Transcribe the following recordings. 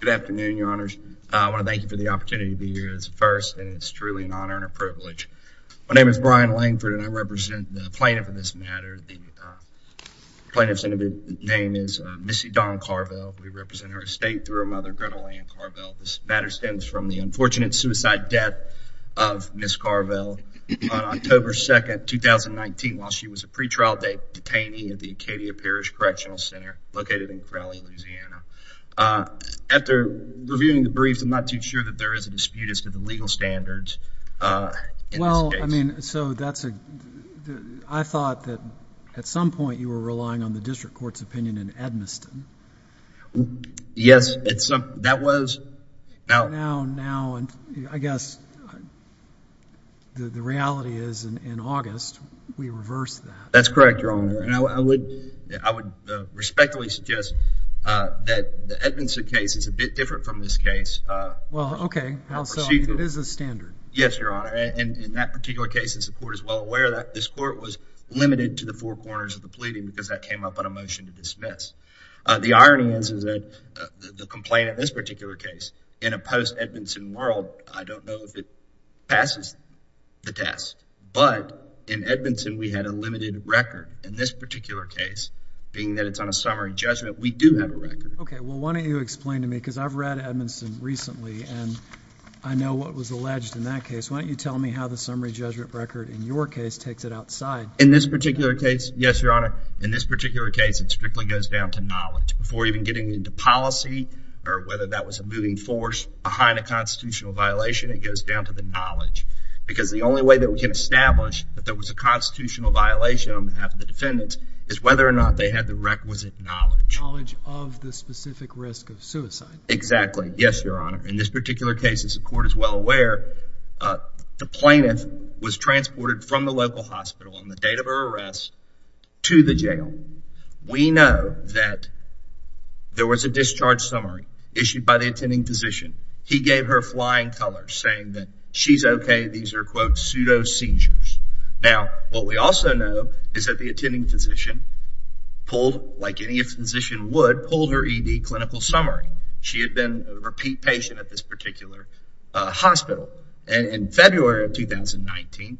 Good afternoon, your honors. I want to thank you for the opportunity to be here as the first, and it's truly an honor and a privilege. My name is Brian Langford, and I represent the plaintiff in this matter. The plaintiff's name is Missy Dawn Carvell. We represent her estate through her mother, Gretta Lane Carvell. This matter stems from the unfortunate suicide death of Miss Carvell on October 2, 2019, while she was a pretrial detainee at the Acadia Parish Correctional Center located in Crowley, Louisiana. After reviewing the briefs, I'm not too sure that there is a dispute as to the legal standards in this case. Well, I mean, so that's a – I thought that at some point you were relying on the district court's opinion in Edmiston. Yes, that was. Now, I guess the reality is in August we reversed that. That's correct, your honor. I would respectfully suggest that the Edmiston case is a bit different from this case. Well, okay. It is a standard. Yes, your honor. In that particular case, as the court is well aware, this court was limited to the four corners of the pleading because that came up on a motion to dismiss. The irony is that the complaint in this particular case, in a post-Edmiston world, I don't know if it passes the test. But in Edmiston, we had a limited record. In this particular case, being that it's on a summary judgment, we do have a record. Okay. Well, why don't you explain to me because I've read Edmiston recently, and I know what was alleged in that case. Why don't you tell me how the summary judgment record in your case takes it outside? In this particular case, yes, your honor. In this particular case, it strictly goes down to knowledge. Before even getting into policy or whether that was a moving force behind a constitutional violation, it goes down to the knowledge. Because the only way that we can establish that there was a constitutional violation on behalf of the defendants is whether or not they had the requisite knowledge. Knowledge of the specific risk of suicide. Exactly. Yes, your honor. In this particular case, as the court is well aware, the plaintiff was transported from the local hospital on the date of her arrest to the jail. We know that there was a discharge summary issued by the attending physician. He gave her flying colors saying that she's okay. These are, quote, pseudo seizures. Now, what we also know is that the attending physician pulled, like any physician would, pulled her ED clinical summary. She had been a repeat patient at this particular hospital. And in February of 2019,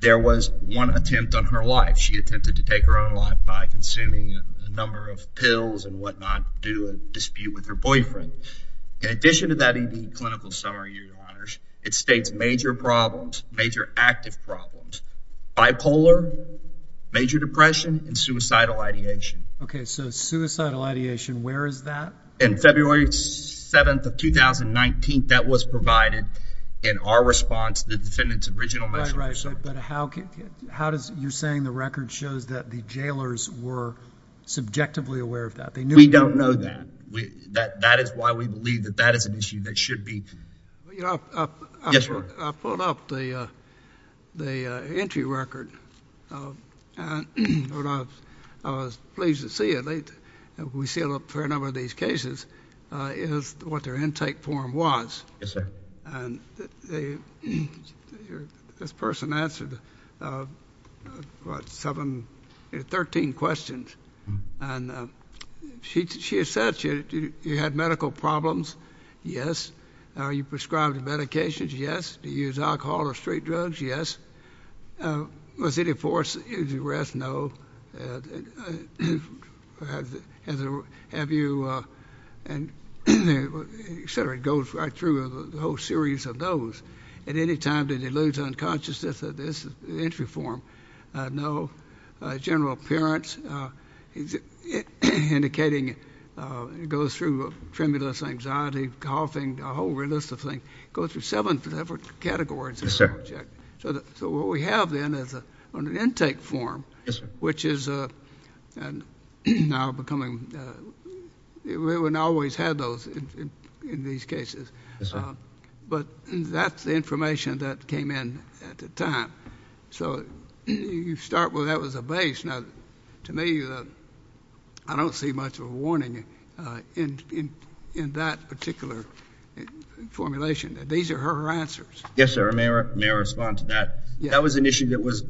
there was one attempt on her life. She attempted to take her own life by consuming a number of pills and whatnot due to a dispute with her boyfriend. In addition to that ED clinical summary, your honors, it states major problems, major active problems, bipolar, major depression, and suicidal ideation. Okay, so suicidal ideation, where is that? In February 7th of 2019, that was provided in our response to the defendant's original measure. Right, right. But how does your saying the record shows that the jailers were subjectively aware of that? We don't know that. That is why we believe that that is an issue that should be. I pulled up the entry record. I was pleased to see it. We see a fair number of these cases. It was what their intake form was. Yes, sir. And this person answered, what, seven, 13 questions. And she said, you had medical problems? Yes. Are you prescribed medications? Yes. Do you use alcohol or street drugs? Yes. Was it a force of duress? No. Have you, et cetera. It goes right through the whole series of those. At any time, did you lose unconsciousness? This is the entry form. No. General appearance? Indicating it goes through tremulous anxiety, coughing, a whole list of things. It goes through seven different categories. Yes, sir. So what we have then is an intake form. Yes, sir. Which is now becoming, we wouldn't always have those in these cases. Yes, sir. But that's the information that came in at the time. So you start with that was a base. Now, to me, I don't see much of a warning in that particular formulation. These are her answers. Yes, sir. May I respond to that? Yes. That was an issue that was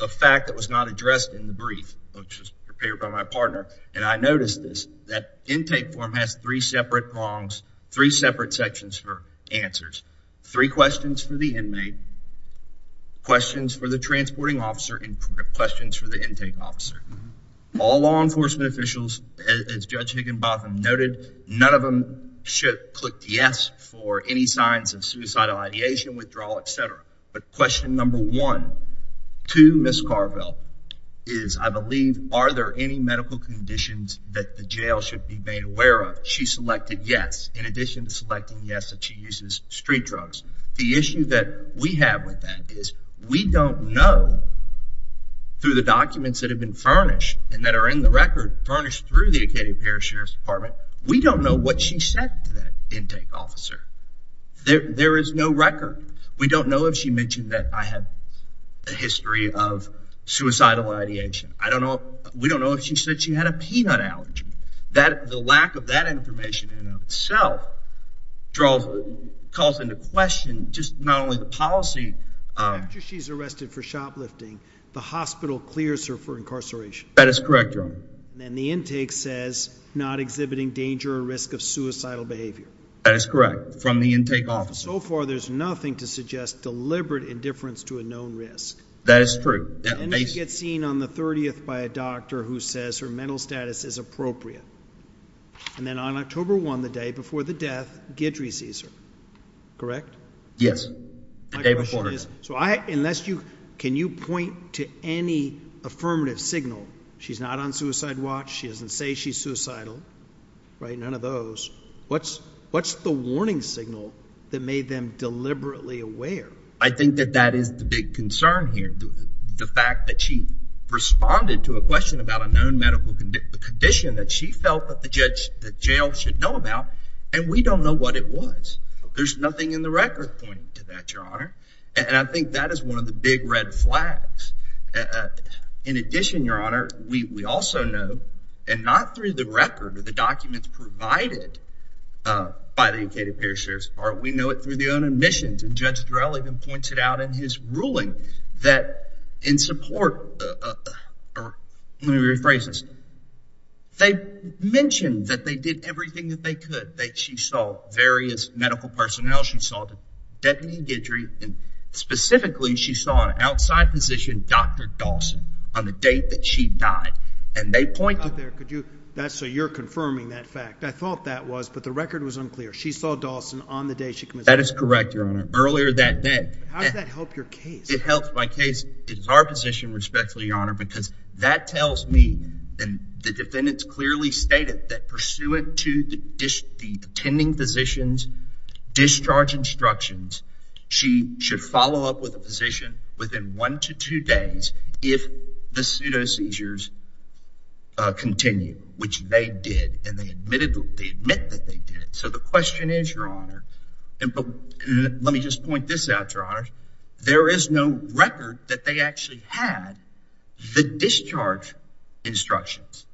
a fact that was not addressed in the brief, which was prepared by my partner. And I noticed this, that intake form has three separate longs, three separate sections for answers, three questions for the inmate, questions for the transporting officer, and questions for the intake officer. All law enforcement officials, as Judge Higginbotham noted, none of them clicked yes for any signs of suicidal ideation, withdrawal, etc. But question number one to Ms. Carville is, I believe, are there any medical conditions that the jail should be made aware of? She selected yes, in addition to selecting yes that she uses street drugs. The issue that we have with that is we don't know, through the documents that have been furnished and that are in the record, furnished through the Acadia Parish Sheriff's Department, we don't know what she said to that intake officer. There is no record. We don't know if she mentioned that I have a history of suicidal ideation. We don't know if she said she had a peanut allergy. The lack of that information in and of itself calls into question just not only the policy. After she's arrested for shoplifting, the hospital clears her for incarceration. That is correct, Your Honor. And the intake says not exhibiting danger or risk of suicidal behavior. That is correct, from the intake officer. So far, there's nothing to suggest deliberate indifference to a known risk. That is true. And she gets seen on the 30th by a doctor who says her mental status is appropriate. And then on October 1, the day before the death, Guidry sees her. Correct? Yes. The day before. My question is, can you point to any affirmative signal? She's not on suicide watch. She doesn't say she's suicidal. Right? None of those. What's the warning signal that made them deliberately aware? I think that that is the big concern here, the fact that she responded to a question about a known medical condition that she felt that the jail should know about, and we don't know what it was. There's nothing in the record pointing to that, Your Honor. And I think that is one of the big red flags. In addition, Your Honor, we also know, and not through the record or the documents provided by the United States Appearance Service, or we know it through the own admissions, and Judge Durell even pointed out in his ruling that in support, let me rephrase this, they mentioned that they did everything that they could. She saw various medical personnel. She saw Deputy Guidry, and specifically she saw an outside physician, Dr. Dawson, on the date that she died. And they pointed to that. So you're confirming that fact. I thought that was, but the record was unclear. She saw Dawson on the day she committed suicide. That is correct, Your Honor, earlier that day. How does that help your case? It helps my case. It is our position, respectfully, Your Honor, because that tells me, and the defendants clearly stated, that pursuant to the attending physician's discharge instructions, she should follow up with a physician within one to two days if the pseudo seizures continue, which they did, and they admit that they did. So the question is, Your Honor, and let me just point this out, Your Honor, there is no record that they actually had the discharge instructions.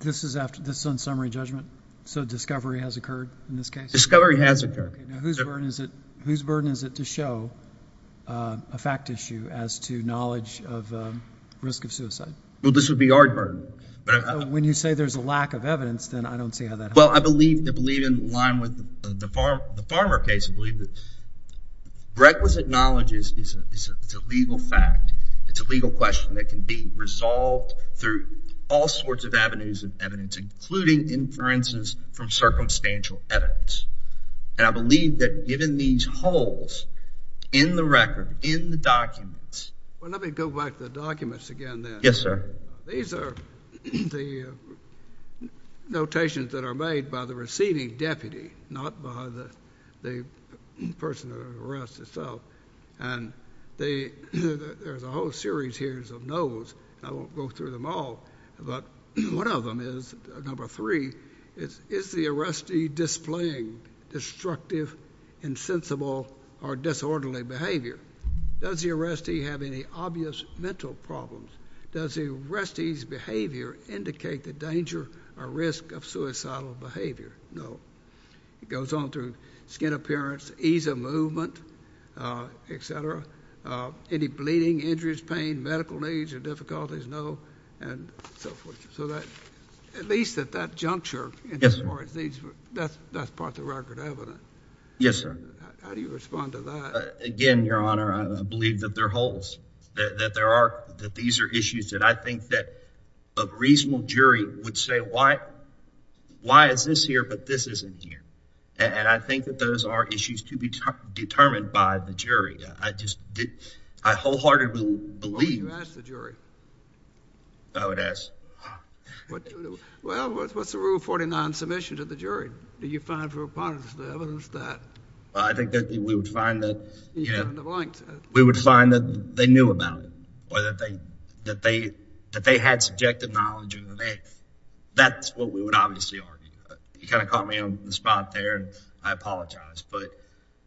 This is on summary judgment? So discovery has occurred in this case? Discovery has occurred. Okay. Now whose burden is it to show a fact issue as to knowledge of risk of suicide? Well, this would be our burden. When you say there's a lack of evidence, then I don't see how that helps. Well, I believe in line with the Farmer case, I believe that requisite knowledge is a legal fact. It's a legal question that can be resolved through all sorts of avenues of evidence, including inferences from circumstantial evidence. And I believe that given these holes in the record, in the documents. Well, let me go back to the documents again then. Yes, sir. These are the notations that are made by the receiving deputy, not by the person under arrest itself. And there's a whole series here of no's. I won't go through them all. But one of them is, number three, is the arrestee displaying destructive, insensible, or disorderly behavior? Does the arrestee have any obvious mental problems? Does the arrestee's behavior indicate the danger or risk of suicidal behavior? No. It goes on through skin appearance, ease of movement, et cetera. Any bleeding, injuries, pain, medical needs or difficulties? No. And so forth. So at least at that juncture, that's part of the record evidence. Yes, sir. How do you respond to that? Again, Your Honor, I believe that there are holes, that these are issues that I think that a reasonable jury would say, why is this here but this isn't here? And I think that those are issues to be determined by the jury. I wholeheartedly believe. Why don't you ask the jury? I would ask. Well, what's the Rule 49 submission to the jury? Do you find for a part of the evidence that? I think that we would find that. We would find that they knew about it or that they had subjective knowledge. That's what we would obviously argue. You kind of caught me on the spot there. I apologize. But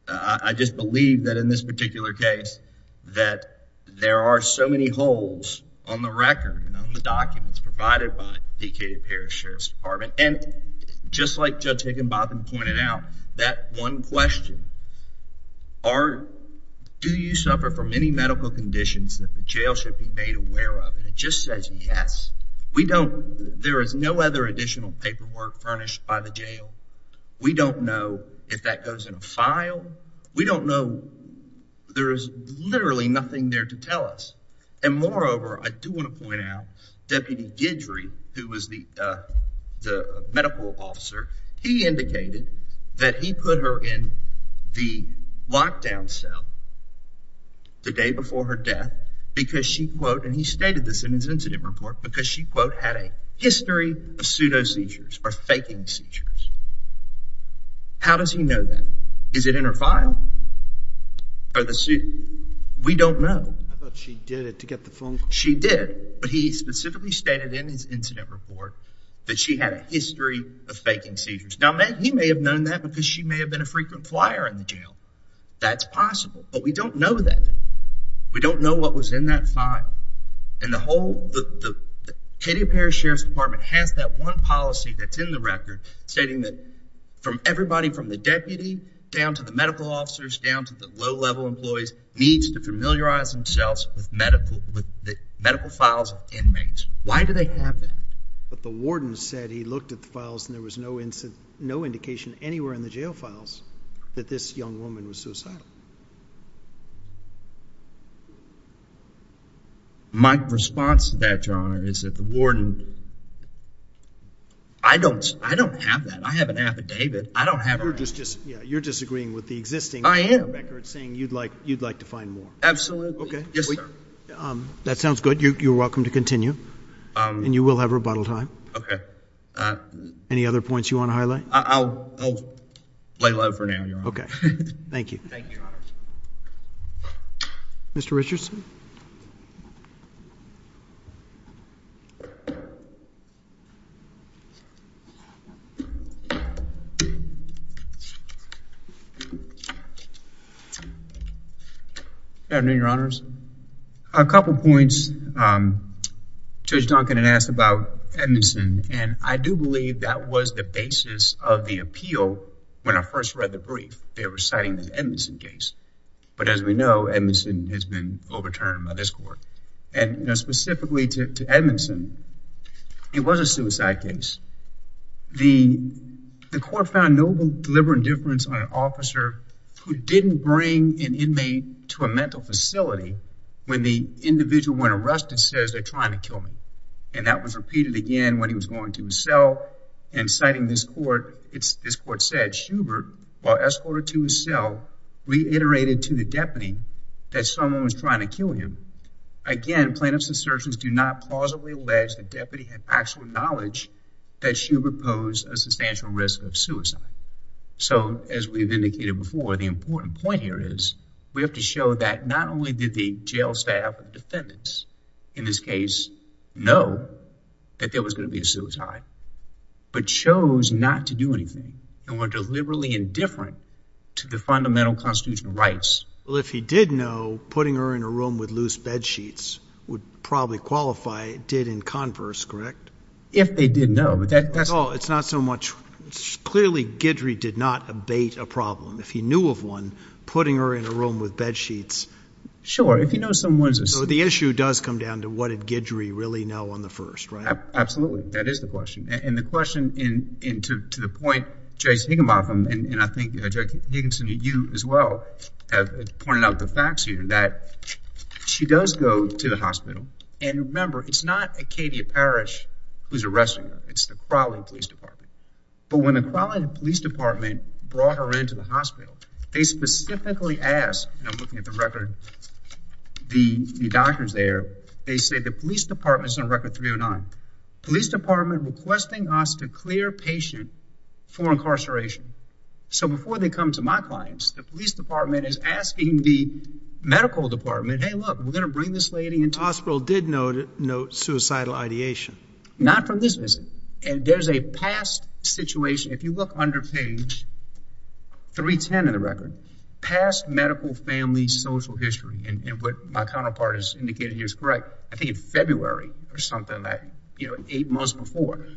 I just believe that in this particular case, that there are so many holes on the record, on the documents provided by the P.K. Parrish Sheriff's Department. And just like Judge Higginbotham pointed out, that one question, do you suffer from any medical conditions that the jail should be made aware of? And it just says yes. There is no other additional paperwork furnished by the jail. We don't know if that goes in a file. We don't know. There is literally nothing there to tell us. And moreover, I do want to point out, Deputy Guidry, who was the medical officer, he indicated that he put her in the lockdown cell the day before her death because she, and he stated this in his incident report, because she had a history of pseudo seizures or faking seizures. How does he know that? Is it in her file? We don't know. I thought she did it to get the phone call. She did. But he specifically stated in his incident report that she had a history of faking seizures. Now, he may have known that because she may have been a frequent flyer in the jail. That's possible. But we don't know that. We don't know what was in that file. And the whole K.D. Parrish Sheriff's Department has that one policy that's in the record stating that everybody from the deputy down to the medical officers down to the low-level employees needs to familiarize themselves with medical files of inmates. Why do they have that? But the warden said he looked at the files and there was no indication anywhere in the jail files that this young woman was suicidal. My response to that, Your Honor, is that the warden... I don't have that. I have an affidavit. I don't have that. You're disagreeing with the existing records saying you'd like to find more. Absolutely. Okay. Yes, sir. That sounds good. You're welcome to continue and you will have rebuttal time. Okay. Any other points you want to highlight? I'll lay low for now, Your Honor. Okay. Thank you. Thank you, Your Honor. Mr. Richardson. Good afternoon, Your Honors. A couple of points. Judge Duncan had asked about Edmondson and I do believe that was the basis of the appeal when I first read the brief. They were citing the Edmondson case. But as we know, Edmondson has been overturned by this court. And specifically to Edmondson, it was a suicide case. The court found no deliberate indifference on an officer who didn't bring an inmate to a mental facility when the individual when arrested says, they're trying to kill me. And that was repeated again when he was going to his cell and citing this court. This court said Schubert, while escorted to his cell, reiterated to the deputy that someone was trying to kill him. Again, plaintiff's assertions do not plausibly allege that the deputy had actual knowledge that Schubert posed a substantial risk of suicide. So, as we've indicated before, the important point here is we have to show that not only did the jail staff and defendants, in this case, know that there was going to be a suicide, but chose not to do anything and were deliberately indifferent to the fundamental constitutional rights. Well, if he did know, putting her in a room with loose bedsheets would probably qualify did in converse, correct? If they did know, but that's... Oh, it's not so much... Clearly, Guidry did not abate a problem. If he knew of one, putting her in a room with bedsheets... Sure, if he knows someone's... So the issue does come down to what did Guidry really know on the first, right? Absolutely. That is the question. And the question, and to the point, Jace Higginbotham, and I think, Judge Higginson, you as well, have pointed out the facts here, that she does go to the hospital, and remember, it's not Acadia Parish who's arresting her. It's the Crawley Police Department. But when the Crawley Police Department brought her into the hospital, they specifically asked, and I'm looking at the record, the doctors there, they say the police department's on record 309. Police department requesting us to clear patient for incarceration. So before they come to my clients, the police department is asking the medical department, hey, look, we're going to bring this lady into... The hospital did note suicidal ideation. Not from this visit. And there's a past situation. If you look under page 310 in the record, past medical family social history, and what my counterpart has indicated here is correct, I think in February or something, you know, eight months before.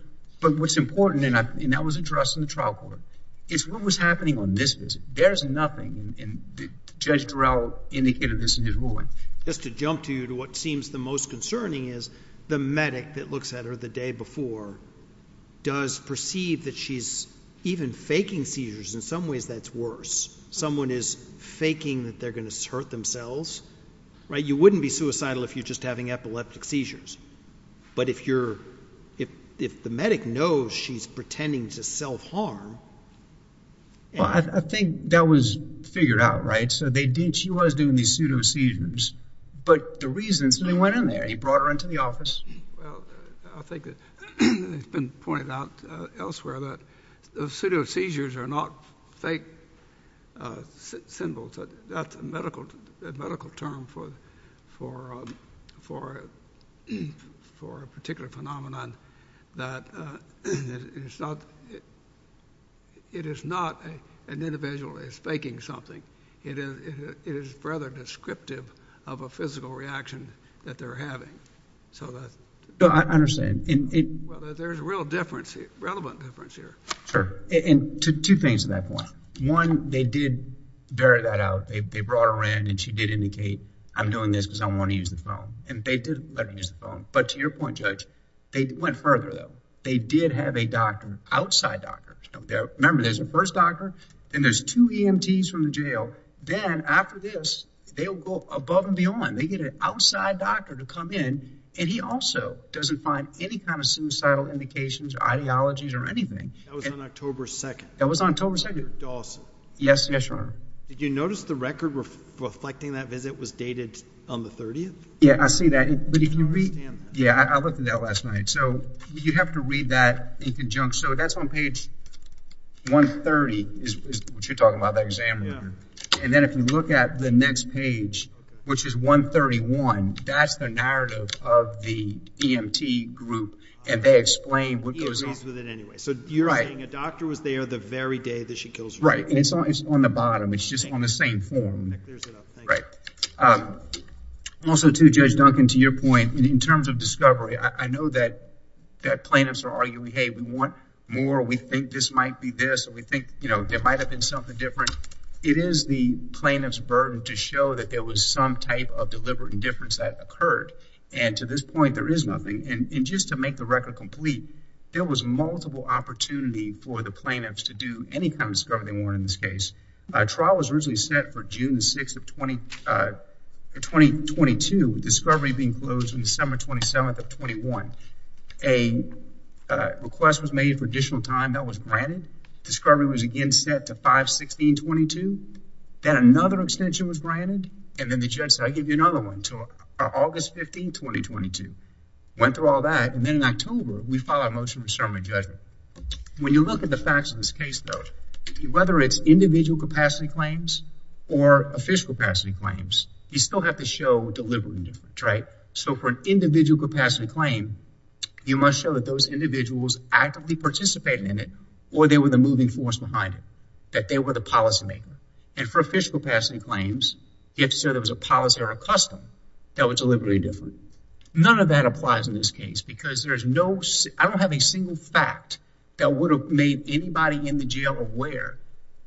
But what's important, and that was addressed in the trial court, is what was happening on this visit. There's nothing, and Judge Durell indicated this in his ruling. Just to jump to what seems the most concerning is the medic that looks at her the day before does perceive that she's even faking seizures. In some ways, that's worse. Someone is faking that they're going to hurt themselves. You wouldn't be suicidal if you're just having epileptic seizures. But if the medic knows she's pretending to self-harm... Well, I think that was figured out, right? So she was doing these pseudo seizures, but the reason is that he went in there. He brought her into the office. Well, I think it's been pointed out elsewhere that pseudo seizures are not fake symbols. That's a medical term for a particular phenomenon that it is not an individual that is faking something. It is rather descriptive of a physical reaction that they're having. So that's... No, I understand. Well, there's a real difference, a relevant difference here. Sure, and two things to that point. One, they did bear that out. They brought her in, and she did indicate, I'm doing this because I want to use the phone. And they did let her use the phone. But to your point, Judge, they went further, though. They did have a doctor, outside doctor. Remember, there's a first doctor, then there's two EMTs from the jail. Then after this, they'll go above and beyond. They get an outside doctor to come in, and he also doesn't find any kind of suicidal indications or ideologies or anything. That was on October 2nd. That was on October 2nd. Did you notice the record reflecting that visit was dated on the 30th? Yeah, I see that. Yeah, I looked at that last night. So you have to read that in conjunction. So that's on page 130 is what you're talking about, that exam record. And then if you look at the next page, which is 131, that's the narrative of the EMT group, and they explain what goes on. He agrees with it anyway. So you're saying a doctor was there the very day that she kills herself. Right, and it's on the bottom. It's just on the same form. That clears it up. Thank you. Also, too, Judge Duncan, to your point, in terms of discovery, I know that plaintiffs are arguing, hey, we want more. We think this might be this. We think there might have been something different. It is the plaintiff's burden to show that there was some type of deliberate indifference that occurred. And to this point, there is nothing. And just to make the record complete, there was multiple opportunity for the plaintiffs to do any kind of discovery they wanted in this case. A trial was originally set for June 6th of 2022, with discovery being closed on December 27th of 21. A request was made for additional time that was granted. Discovery was again set to 5-16-22. Then another extension was granted, and then the judge said, I'll give you another one, to August 15th, 2022. Went through all that, and then in October, we filed a motion for summary judgment. When you look at the facts of this case, though, whether it's individual capacity claims or official capacity claims, you still have to show deliberate indifference, right? So for an individual capacity claim, you must show that those individuals actively participated in it or they were the moving force behind it, that they were the policymaker. And for official capacity claims, you have to show there was a policy or a custom that was deliberate indifference. None of that applies in this case because there is no – that would have made anybody in the jail aware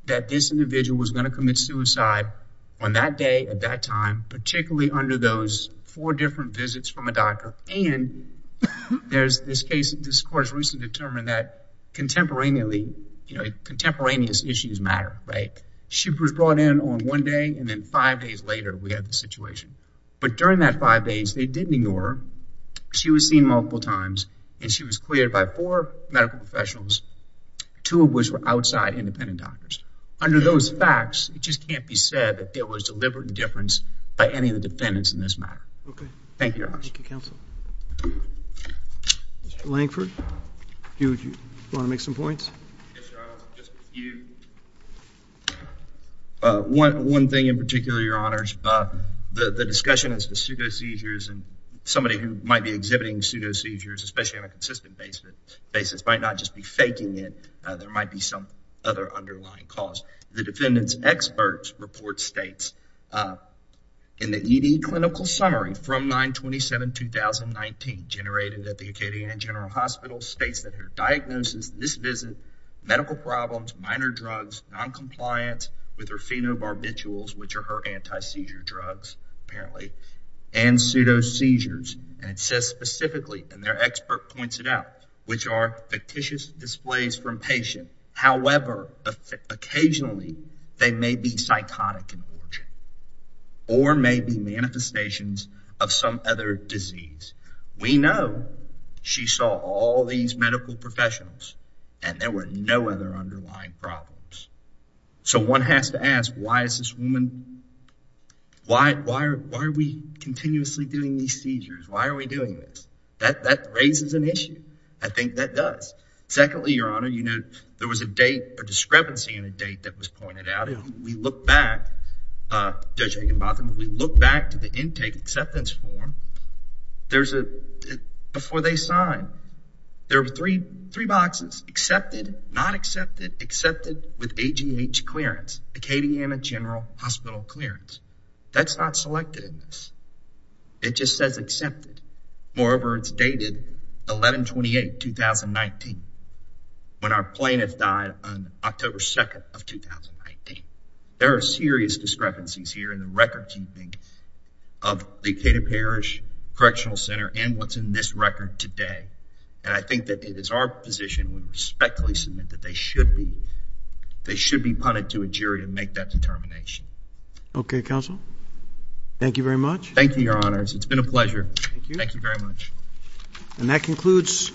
that this individual was going to commit suicide on that day at that time, particularly under those four different visits from a doctor. And there's this case – this court has recently determined that contemporaneously, you know, contemporaneous issues matter, right? She was brought in on one day, and then five days later, we have the situation. But during that five days, they didn't ignore her. She was seen multiple times, and she was cleared by four medical professionals, two of which were outside independent doctors. Under those facts, it just can't be said that there was deliberate indifference by any of the defendants in this matter. Okay. Thank you, Your Honors. Thank you, Counsel. Mr. Lankford, do you want to make some points? Yes, Your Honors. Just a few. One thing in particular, Your Honors, the discussion as to pseudo seizures and somebody who might be exhibiting pseudo seizures, especially on a consistent basis, might not just be faking it. There might be some other underlying cause. The defendant's experts report states in the ED clinical summary from 9-27-2019 generated at the Acadian General Hospital states that her diagnosis in this visit, medical problems, minor drugs, noncompliance with her phenobarbiturals, which are her anti-seizure drugs, apparently, and pseudo seizures. And it says specifically, and their expert points it out, which are fictitious displays from patient. However, occasionally, they may be psychotic in origin or may be manifestations of some other disease. We know she saw all these medical professionals and there were no other underlying problems. So one has to ask, why is this woman, why are we continuously doing these seizures? Why are we doing this? That raises an issue. I think that does. Secondly, Your Honor, there was a date, a discrepancy in a date that was pointed out. We look back, Judge Higginbotham, we look back to the intake acceptance form. There's a, before they sign, there were three boxes, accepted, not accepted, accepted with AGH clearance, Acadiana General Hospital clearance. That's not selected in this. It just says accepted. Moreover, it's dated 11-28-2019, when our plaintiff died on October 2nd of 2019. There are serious discrepancies here in the record keeping of the Acadia Parish Correctional Center and what's in this record today. And I think that it is our position we respectfully submit that they should be, they should be punted to a jury and make that determination. Okay, Counsel. Thank you very much. Thank you, Your Honors. It's been a pleasure. Thank you. Thank you very much. And that concludes.